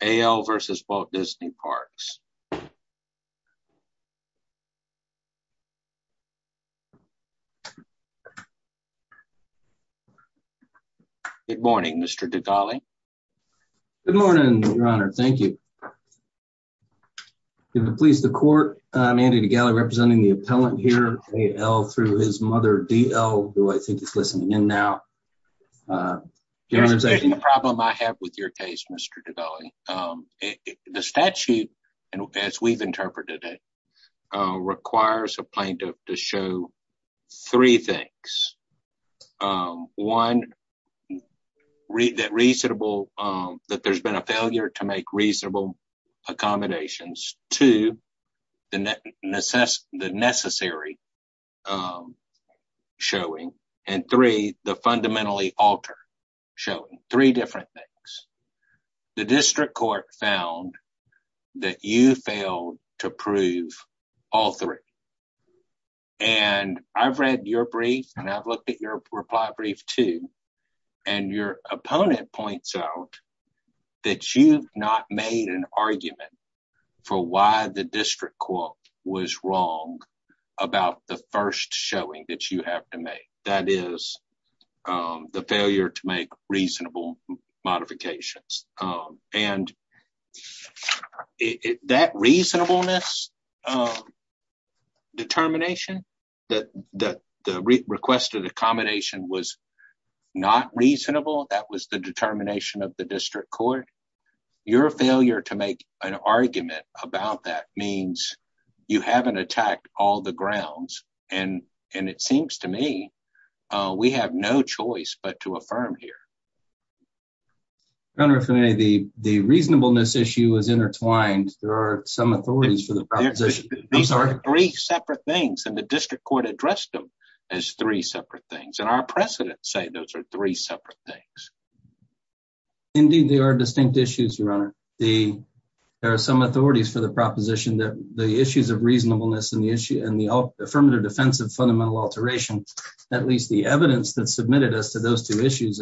A. L. v. Walt Disney Parks Good morning, Mr. Degale. Good morning, Your Honor. Thank you. To the police, the court, I'm Andy Degale representing the appellant here, A. L. through his mother, D. L., who I think is listening in now. Your Honor, the problem I have with your case, Mr. Degale, the statute, as we've interpreted it, requires a plaintiff to show three things. One, that there's been a failure to make reasonable accommodations. Two, the necessary showing. And three, the fundamentally altered showing. Three different things. The district court found that you failed to prove all three. And I've read your brief, and I've looked at your reply brief too, and your opponent points out that you've not made an argument for why the district court was wrong about the first showing that you have to make. That is, the failure to make reasonable modifications. And that reasonableness determination, that the request of accommodation was not reasonable, that was the determination of the district court. Your failure to make an argument about that means you haven't attacked all the grounds. And it seems to me we have no choice but to affirm here. Your Honor, if the reasonableness issue is intertwined, there are some authorities for the proposition. I'm sorry? These are three separate things, and the district court addressed them as three separate things. And our precedents say those are three separate things. Indeed, they are distinct issues, Your Honor. There are some authorities for the proposition that the issues of reasonableness and the affirmative defense of fundamental alteration, at least the evidence that submitted us to those two issues,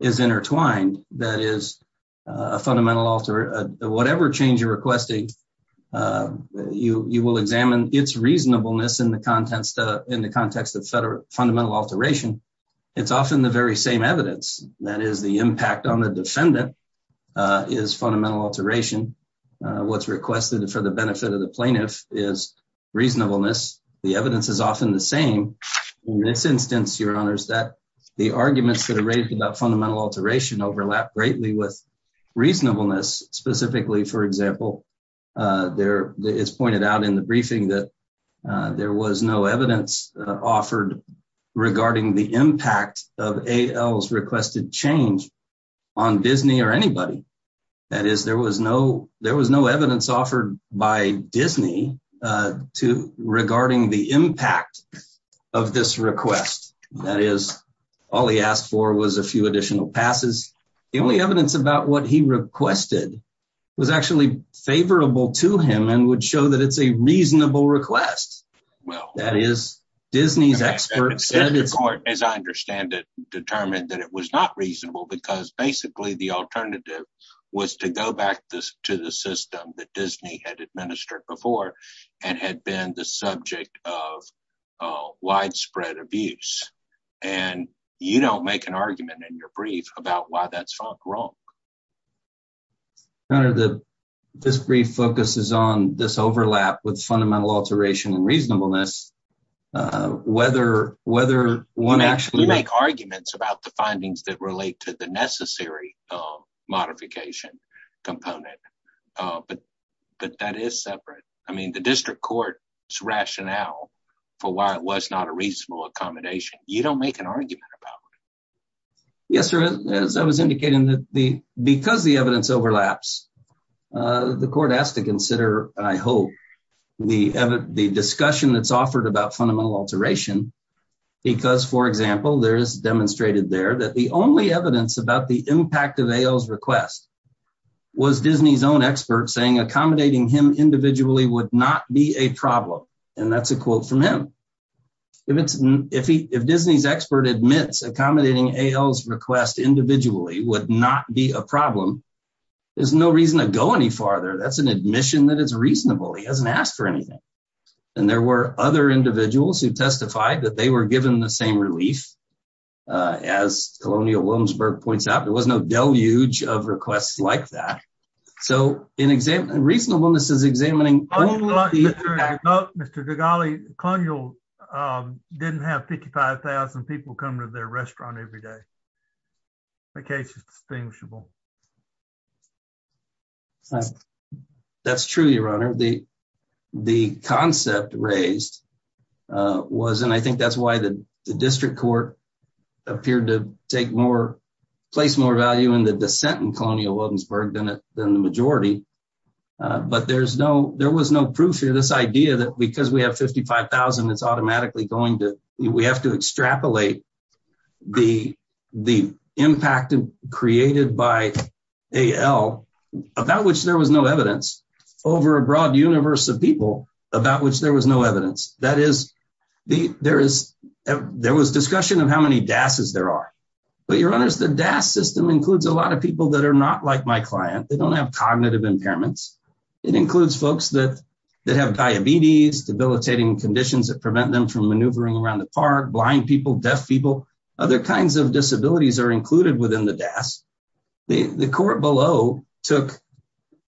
is intertwined. That is, whatever change you're requesting, you will examine its reasonableness in the context of defendant is fundamental alteration. What's requested for the benefit of the plaintiff is reasonableness. The evidence is often the same. In this instance, Your Honor, the arguments that are raised about fundamental alteration overlap greatly with reasonableness. Specifically, for example, it's pointed out in the briefing that there was no evidence offered regarding the impact of A.L.'s requested change on Disney or anybody. That is, there was no evidence offered by Disney regarding the impact of this request. That is, all he asked for was a few additional passes. The only evidence about what he requested was actually favorable to him and would show that well. That is, Disney's experts, as I understand it, determined that it was not reasonable because basically the alternative was to go back to the system that Disney had administered before and had been the subject of widespread abuse. You don't make an argument in your brief about why that's wrong. Your Honor, this brief focuses on this overlap with fundamental alteration and reasonableness. You make arguments about the findings that relate to the necessary modification component, but that is separate. I mean, the district court's rationale for why it was not reasonable accommodation. You don't make an argument about it. Yes, Your Honor. As I was indicating, because the evidence overlaps, the court has to consider, I hope, the discussion that's offered about fundamental alteration because, for example, there is demonstrated there that the only evidence about the impact of A.L.'s request was Disney's own expert saying accommodating him individually would not be a problem, and that's a quote from him. If Disney's expert admits accommodating A.L.'s request individually would not be a problem, there's no reason to go any farther. That's an admission that it's reasonable. He hasn't asked for anything, and there were other individuals who testified that they were given the same relief as Colonial Williamsburg points out. There was no deluge of requests like that. So, reasonableness is examining... Mr. Gagali, Colonial didn't have 55,000 people come to their restaurant every day. The case is distinguishable. That's true, Your Honor. The concept raised was, and I think that's why the district court appeared to place more value in the dissent in Colonial Williamsburg than the majority, but there was no proof here. This idea that because we have 55,000, it's automatically going to... We have to extrapolate the impact created by A.L. about which there was no evidence over a broad universe of people about which there was no evidence. That is, there was discussion of how many DASs there are, but Your Honors, the DAS system includes a lot of people that are not like my client. They don't have cognitive impairments. It includes folks that have diabetes, debilitating conditions that prevent them from maneuvering around the park, blind people, deaf people, other kinds of disabilities are included within the DAS. The court below took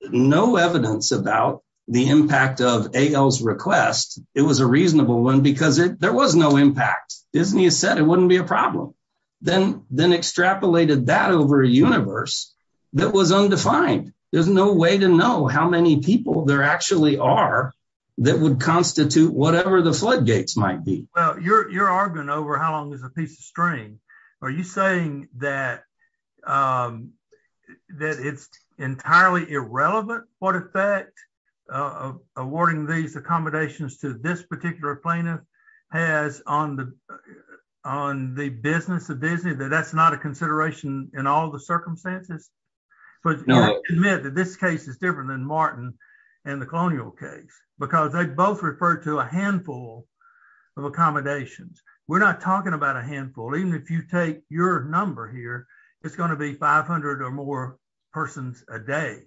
no evidence about the impact of A.L.'s request. It was a reasonable one because there was no impact. Disney said it wouldn't be a problem, then extrapolated that over a universe that was undefined. There's no way to know how many people there actually are that would constitute whatever the floodgates might be. Well, you're arguing over how long is a piece of string. Are you saying that it's entirely irrelevant what effect awarding these accommodations to this particular plaintiff has on the business of Disney, that that's not a consideration in all the circumstances? But admit that this case is different than Martin and the colonial case because they both referred to a handful of accommodations. We're not talking about a handful. Even if you take your number here, it's going to be 500 or more persons a day.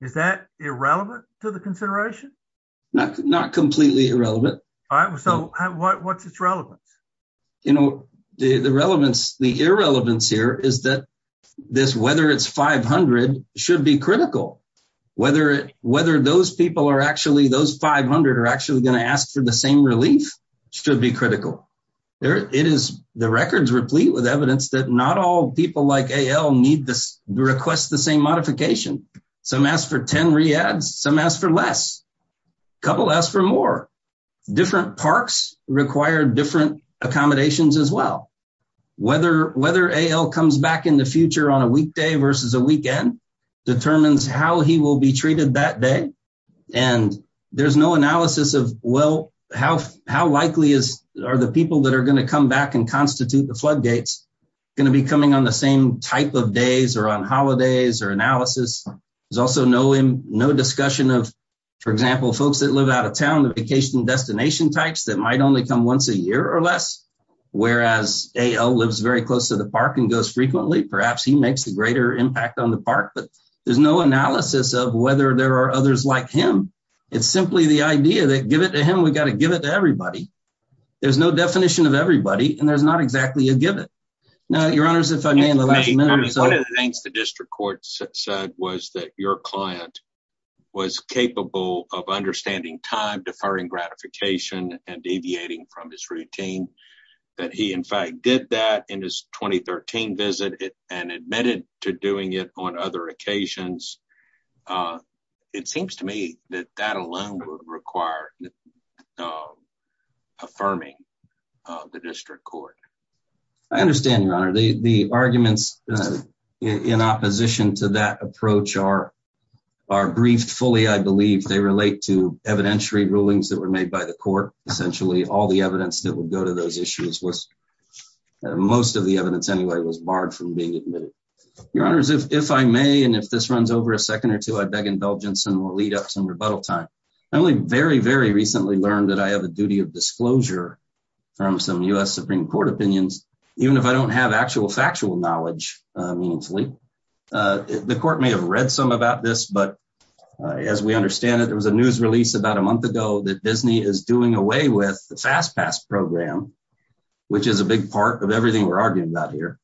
Is that irrelevant to the consideration? Not completely irrelevant. All right. So what's its relevance? You know, the relevance, the irrelevance here is that this, whether it's 500, should be critical. Whether those people are actually, those 500 are actually going to ask for the same relief should be critical. It is the records replete with evidence that not all people like A.L. request the same modification. Some ask for 10 reads. Some ask for less. A couple ask for more. Different parks require different accommodations as well. Whether A.L. comes back in the future on a weekday versus a weekend determines how he will be treated that day. And there's no analysis of, well, how likely are the people that are going to come back and constitute the floodgates going to be coming on the same type of days or on holidays or analysis? There's also no discussion of, for example, folks that live out of town, the vacation destination types that might only come once a year or less, whereas A.L. lives very close to the park and goes frequently. Perhaps he makes a greater impact on the park, but there's no analysis of whether there are others like him. It's simply the idea that give it to him, we've got to give it to everybody. There's no definition of everybody, and there's not exactly a give it. Now, your honors, if I may, in the last minute. One of the things the district court said was that your client was capable of understanding time, deferring gratification, and deviating from his routine, that he in fact did that in his 2013 visit and admitted to doing it on other occasions. It seems to me that that alone would require affirming the district court. I understand, your honor. The arguments in opposition to that approach are briefed fully, I believe. They relate to evidentiary rulings that were made by the court. Essentially, all the evidence that would go to those issues was, most of the evidence anyway, was barred from being admitted. Your honors, if I may, and if this runs over a second or two, I beg indulgence and we'll lead up some rebuttal time. I only very, very recently learned that I have a duty of disclosure from some US Supreme Court opinions, even if I don't have actual factual knowledge, meaningfully. The court may have read some about this, but as we understand it, there was a news release about a month ago that Disney is doing away with the fast pass program, which is a big part of everything we're arguing about here,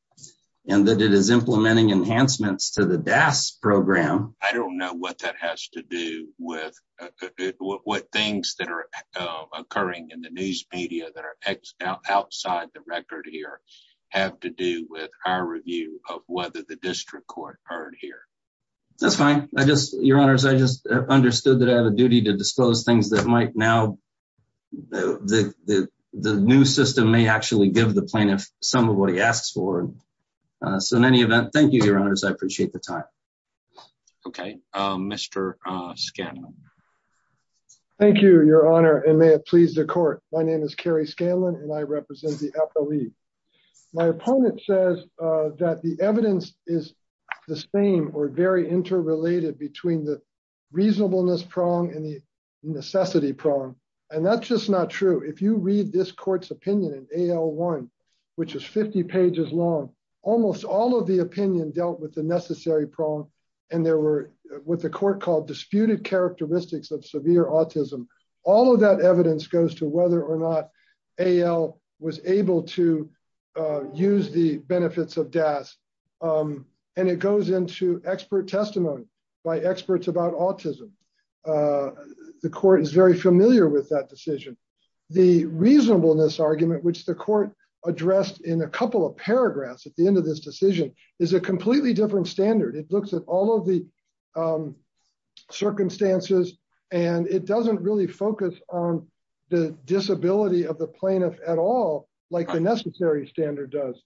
and that it is implementing enhancements to the DAS program. I don't know what that has to do with what things that are occurring in the news media that are outside the record here have to do with our review of whether the district court heard here. That's fine. I just, your honors, I just understood that I have a duty to disclose things that might now, the new system may actually give the plaintiff some of what he asks for. So in any event, thank you, your honors. I appreciate the time. Okay. Mr. Scanlon. Thank you, your honor, and may it please the court. My name is Kerry Scanlon and I represent the FOE. My opponent says that the evidence is the same or very interrelated between the reasonableness prong and the necessity prong, and that's just not true. If you read this court's opinion in AL1, which is 50 pages long, almost all of the opinion dealt with the necessary prong and there were what the court called disputed characteristics of severe autism. All of that evidence goes to whether or not AL was able to use the benefits of DAS, and it goes into expert testimony by experts about autism. The court is very familiar with that decision. The reasonableness argument, which the court addressed in a couple of paragraphs at the end of this decision, is a completely different standard. It looks at all of the circumstances and it doesn't really focus on the disability of the plaintiff at all like the necessary standard does.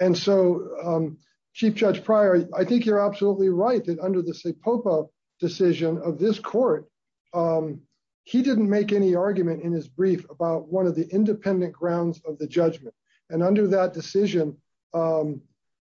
And so, Chief Judge Pryor, I think you're absolutely right that under the SIPOPA decision of this court, he didn't make any argument in his brief about one of the independent grounds of the judgment. And under that decision, the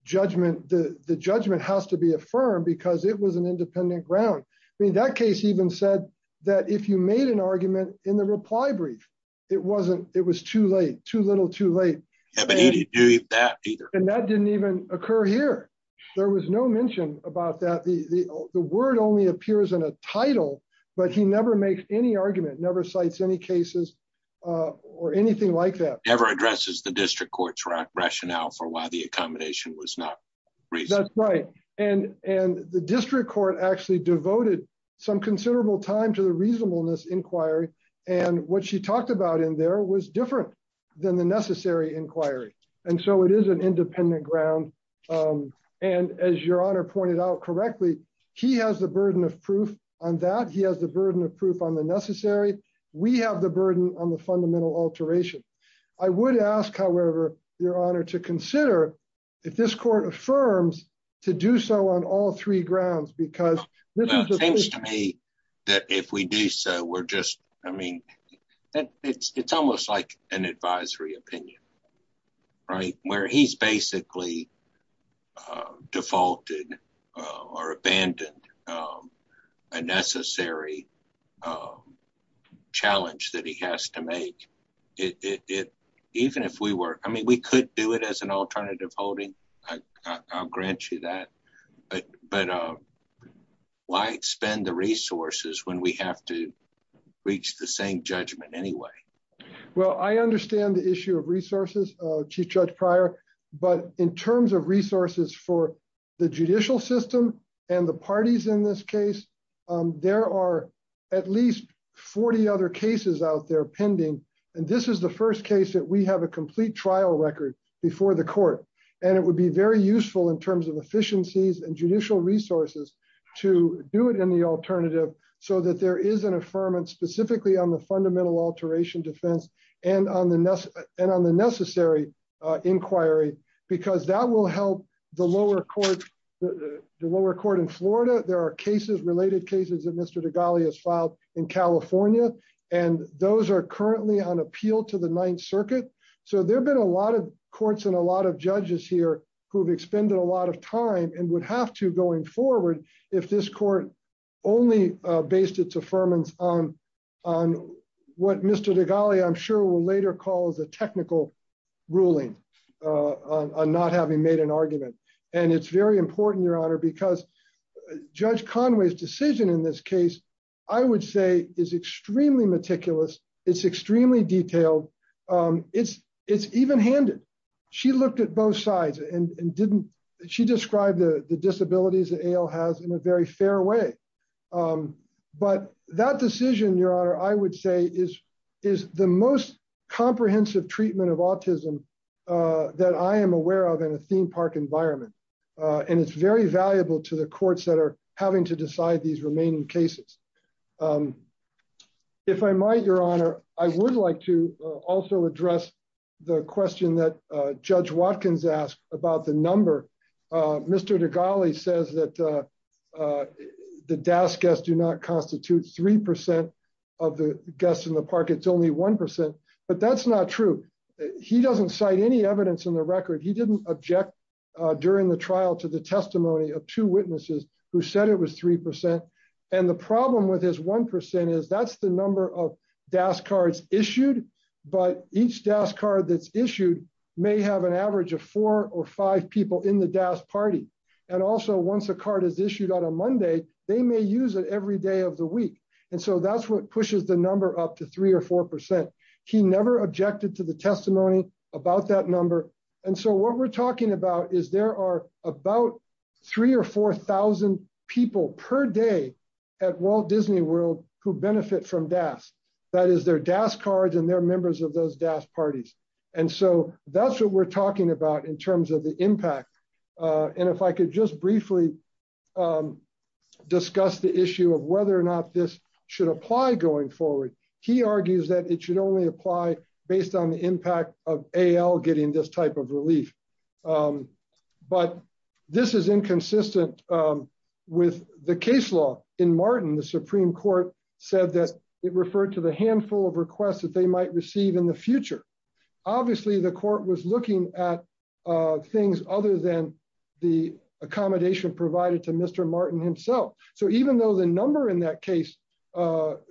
judgment has to be affirmed because it was an independent ground. I mean, that case even said that if you made an argument in the reply brief, it was too late, too little, too late. And that didn't even occur here. There was no mention about that. The word only appears in a title, but he never makes any argument, never cites any cases or anything like that. Never addresses the district court's rationale for why the accommodation was not reasonable. That's right. And the district court actually devoted some considerable time to reasonableness inquiry. And what she talked about in there was different than the necessary inquiry. And so it is an independent ground. And as Your Honor pointed out correctly, he has the burden of proof on that. He has the burden of proof on the necessary. We have the burden on the fundamental alteration. I would ask, however, Your Honor, to consider if this court affirms to do so on all three grounds, because it seems to me that if we do so, we're just, I mean, it's almost like an advisory opinion, right, where he's basically defaulted or abandoned a necessary challenge that he has to make it. Even if we were, I mean, we could do it as an advisory opinion, I can guarantee you that. But why spend the resources when we have to reach the same judgment anyway? Well, I understand the issue of resources, Chief Judge Pryor, but in terms of resources for the judicial system and the parties in this case, there are at least 40 other cases out there pending. And this is the first case that we have a complete trial record before the court. And it would be very useful in terms of efficiencies and judicial resources to do it in the alternative so that there is an affirmance specifically on the fundamental alteration defense and on the necessary inquiry, because that will help the lower court in Florida. There are cases, related cases, that Mr. Degali has filed in California, and those are currently on appeal to the Ninth Circuit. So there have been a lot of courts and a lot of judges here who've expended a lot of time and would have to going forward if this court only based its affirmance on what Mr. Degali, I'm sure, will later call as a technical ruling on not having made an argument. And it's very important, Your Honor, because Judge Conway's decision in this case is extremely detailed. It's even-handed. She looked at both sides and she described the disabilities that AIL has in a very fair way. But that decision, Your Honor, I would say is the most comprehensive treatment of autism that I am aware of in a theme park environment. And it's very valuable to the courts that are having to decide these remaining cases. If I might, Your Honor, I would like to also address the question that Judge Watkins asked about the number. Mr. Degali says that the DAS guests do not constitute 3% of the guests in the park. It's only 1%. But that's not true. He doesn't cite any evidence in the record. He didn't object during the trial to the testimony of two witnesses who said it was 3%. And the problem with his 1% is that's the number of DAS cards issued. But each DAS card that's issued may have an average of four or five people in the DAS party. And also once a card is issued on a Monday, they may use it every day of the week. And so that's what pushes the number up to 3% or 4%. He never objected to the is there are about three or 4,000 people per day at Walt Disney World who benefit from DAS. That is their DAS cards and their members of those DAS parties. And so that's what we're talking about in terms of the impact. And if I could just briefly discuss the issue of whether or not this should apply going forward. He argues that it should only apply based on the impact of AL getting this type of relief. But this is inconsistent with the case law. In Martin, the Supreme Court said that it referred to the handful of requests that they might receive in the future. Obviously, the court was looking at things other than the accommodation provided to Mr. Martin himself. So even though the number in that case was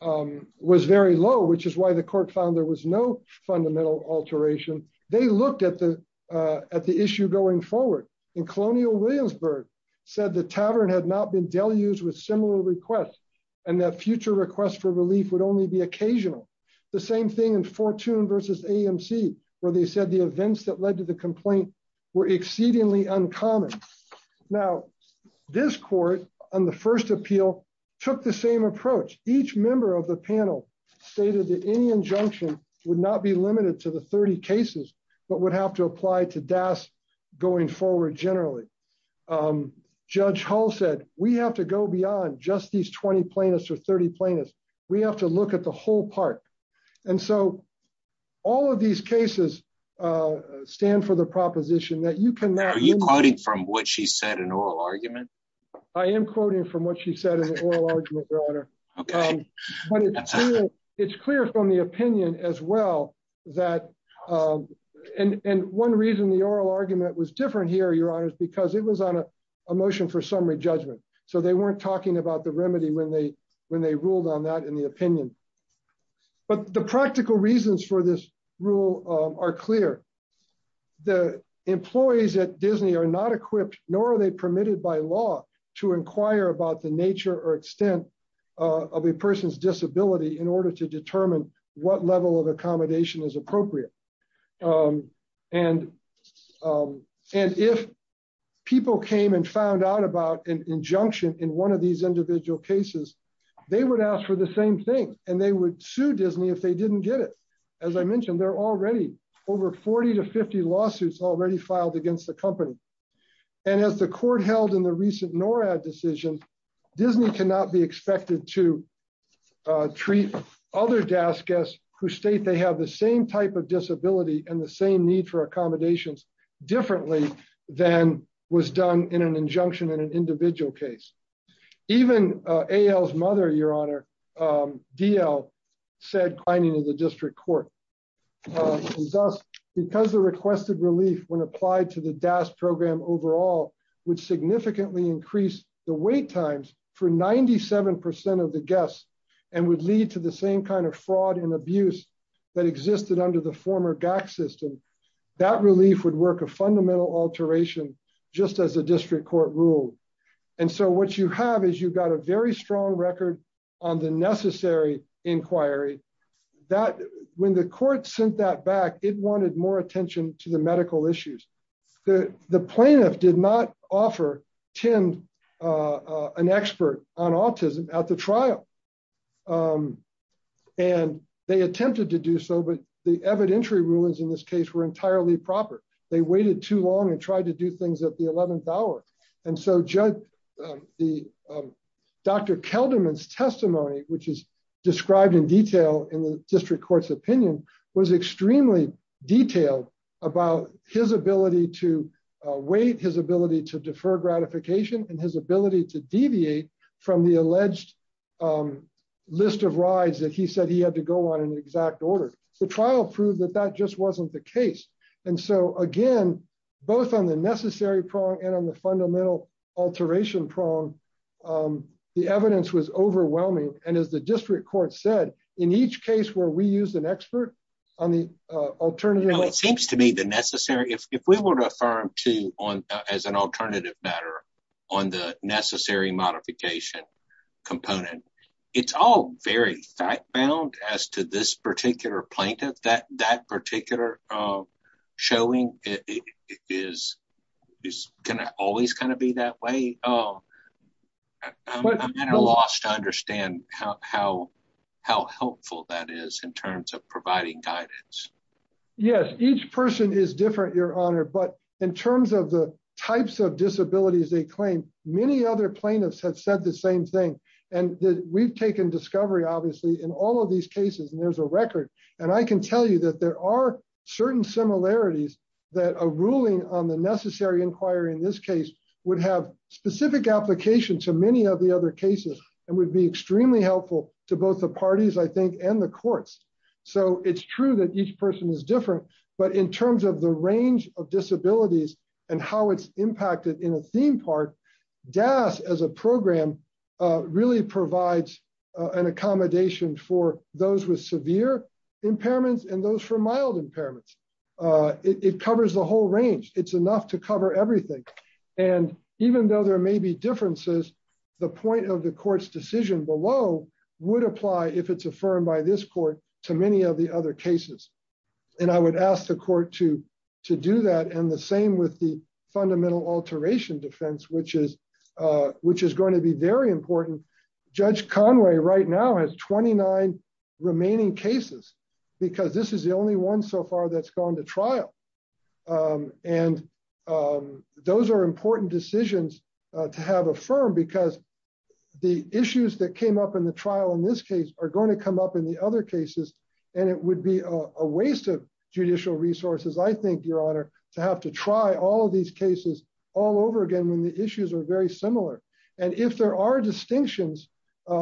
very low, which is why the court found there was no fundamental alteration, they looked at the issue going forward. And Colonial Williamsburg said the tavern had not been deluged with similar requests and that future requests for relief would only be occasional. The same thing in Fortune versus AMC, where they said the events that led to the complaint were exceedingly uncommon. Now, this court on the first appeal took the same approach. Each member of the panel stated that any injunction would not be limited to the 30 cases, but would have to apply to DAS going forward generally. Judge Hall said, we have to go beyond just these 20 plaintiffs or 30 plaintiffs. We have to look at the whole part. And so all of these cases stand for the proposition that you can now- Are you quoting from what she said in oral argument? I am quoting from what she said in the oral argument, Your Honor. It's clear from the opinion as well that, and one reason the oral argument was different here, Your Honor, is because it was on a motion for summary judgment. So they weren't talking about the remedy when they ruled on that in the opinion. But the practical reasons for this rule are clear. The employees at Disney are not equipped, nor are they permitted by law to inquire about the nature or extent of a person's disability in order to determine what level of accommodation is appropriate. And if people came and found out about an injunction in one of these individual cases, they would ask for the same thing and they would sue Disney if they didn't get it. As I mentioned, there are already over 40 to 50 lawsuits already filed against the company. And as the court held in the recent NORAD decision, Disney cannot be expected to treat other DAS guests who state they have the same type of disability and the same need for accommodations differently than was done in an injunction in an individual case. Even A.L.'s mother, Your Honor, D.L., said, pointing to the district court, because the requested relief when applied to the DAS program overall would significantly increase the wait times for 97% of the guests and would lead to the same kind of fraud and abuse that existed under the former GAC system, that relief would work a fundamental alteration just as the district court ruled. And so what you have is you've got a very strong record on the necessary inquiry that when the court sent that back, it wanted more attention to the medical issues. The plaintiff did not offer Tim an expert on autism at the trial. And they attempted to do so, but the evidentiary rulings in this case were entirely proper. They waited too long and tried to do things at the 11th hour. And so Dr. Kelderman's testimony, which is described in detail in the district court's opinion, was extremely detailed about his ability to wait, his ability to defer gratification, and his ability to deviate from the alleged list of rides that he said he had to go on in exact order. The trial proved that that just wasn't the case. And so again, both on the necessary prong and on the fundamental alteration prong, the evidence was overwhelming. And as the district court said, in each case where we used an expert on the alternative... Well, it seems to me the necessary... If we were to affirm to as an alternative matter on the necessary modification component, it's all very fact-bound as to this particular plaintiff, that that particular showing is always going to be that way. I'm at a loss to understand how helpful that is in terms of providing guidance. Yes, each person is different, Your Honor. But in terms of the types of disabilities they claim, many other plaintiffs have said the same thing. And we've taken discovery, obviously, in all of these cases, and there's a record. And I can tell you that there are certain similarities that a ruling on the necessary inquiry in this case would have specific application to many of the other cases and would be extremely helpful to both the parties, I think, and the courts. So it's true that each person is different, but in terms of the range of disabilities and how it's impacted in a theme park, DAS as a program really provides an accommodation for those with severe impairments and those for mild impairments. It covers the whole range. It's enough to cover everything. And even though there may be differences, the point of the court's below would apply if it's affirmed by this court to many of the other cases. And I would ask the court to do that. And the same with the fundamental alteration defense, which is going to be very important. Judge Conway right now has 29 remaining cases because this is the only one so far that's trial. And those are important decisions to have a firm because the issues that came up in the trial in this case are going to come up in the other cases. And it would be a waste of judicial resources. I think your honor to have to try all of these cases all over again, when the issues are very similar. And if there are distinctions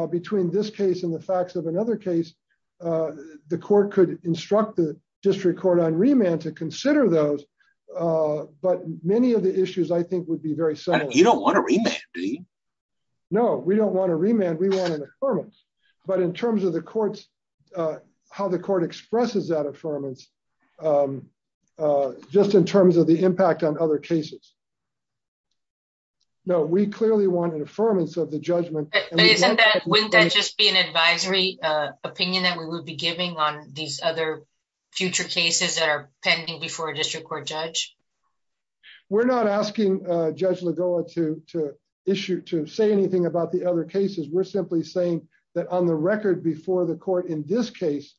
between this case and the facts of another case, the court could instruct the district court on remand to consider those. But many of the issues I think would be very similar. You don't want to read that. No, we don't want to remand. We want an affirmance. But in terms of the courts, how the court expresses that affirmance, just in terms of the impact on other cases. No, we clearly want an affirmance of the judgment. Wouldn't that just be an advisory opinion that we would be giving on these other future cases that are pending before a district court judge? We're not asking Judge Lagoa to issue to say anything about the other cases. We're simply saying that on the record before the court in this case,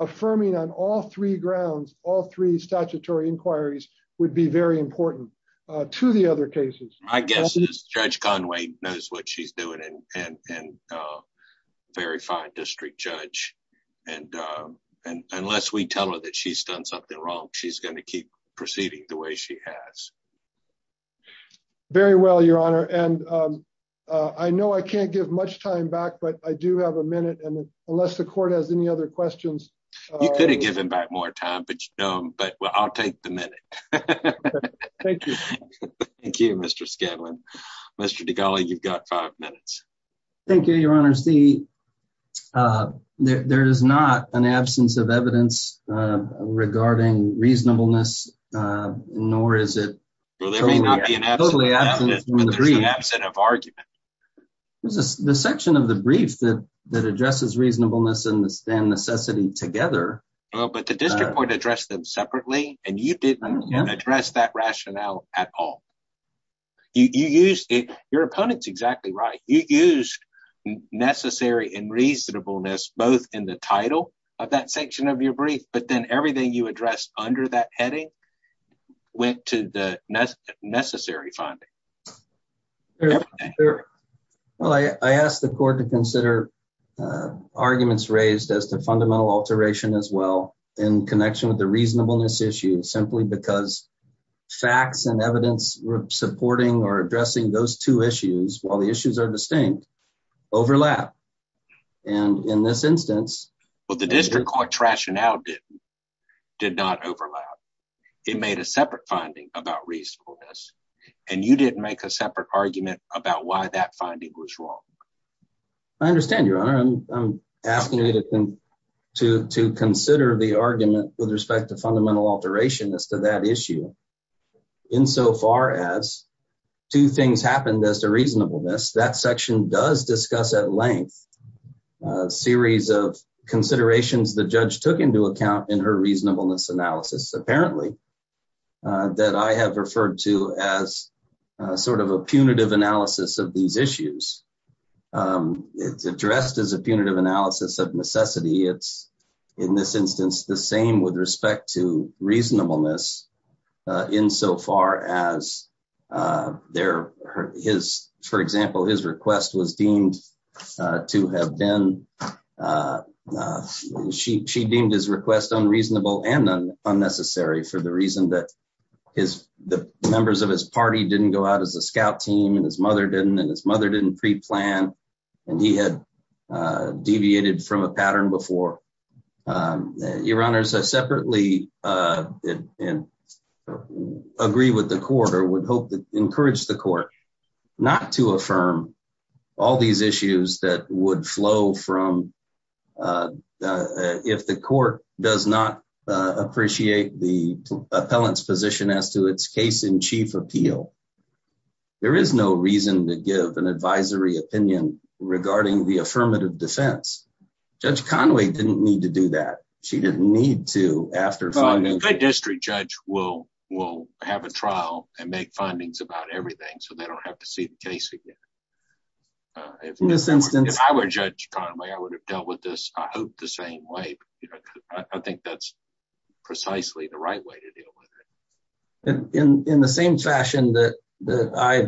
affirming on all three grounds, all three statutory inquiries would be very important to the other cases. I guess Judge Conway knows what she's doing and a very fine district judge. And unless we tell her that she's done something wrong, she's going to keep proceeding the way she has. Very well, Your Honor. And I know I can't give much time back, but I do have a minute. And unless the court has any other questions. You could have given back more time, but I'll take the minute. Thank you. Thank you, Mr. Scanlon. Mr. Degale, you've got five minutes. Thank you, Your Honor. See, there is not an absence of evidence regarding reasonableness, nor is it totally absent of argument. The section of the brief that addresses reasonableness and necessity together. But the district court addressed them separately and you didn't address that rationale at all. You used it. Your opponent's exactly right. You used necessary and reasonableness, both in the title of that section of your brief, but then everything you addressed under that heading went to the necessary finding. Well, I asked the court to consider arguments raised as the fundamental alteration as in connection with the reasonableness issue, simply because facts and evidence supporting or addressing those two issues, while the issues are distinct, overlap. And in this instance... But the district court rationale did not overlap. It made a separate finding about reasonableness and you didn't make a separate argument about why that finding was wrong. I understand, Your Honor. I'm asking you to consider the argument with respect to fundamental alteration as to that issue. In so far as two things happened as to reasonableness, that section does discuss at length a series of considerations the judge took into account in her reasonableness analysis, apparently, that I have referred to as sort of a punitive analysis of these issues. It's addressed as a punitive analysis of necessity. It's, in this instance, the same with respect to reasonableness in so far as, for example, his request was deemed to have been... She deemed his request unreasonable and unnecessary for the reason that the members of his party didn't go out as a scout team, and his mother didn't, and his mother didn't pre-plan, and he had deviated from a pattern before. Your Honors, I separately agree with the court or would hope to encourage the court not to affirm all these issues that would flow from... If the court does not appreciate the case in chief appeal, there is no reason to give an advisory opinion regarding the affirmative defense. Judge Conway didn't need to do that. She didn't need to after... Well, a good district judge will have a trial and make findings about everything, so they don't have to see the case again. In this instance... If I were Judge Conway, I would have dealt with this, I hope, the same way. I think that's precisely the right way to deal with it. In the same fashion that I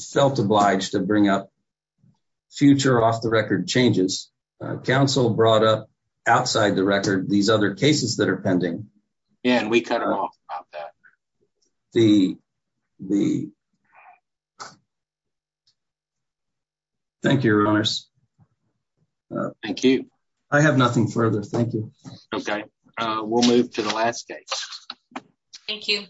felt obliged to bring up future off-the-record changes, counsel brought up outside the record these other cases that are pending. Yeah, and we cut her off about that. Thank you, Your Honors. Thank you. I have nothing further. Thank you. Okay, we'll move to the last case. Thank you.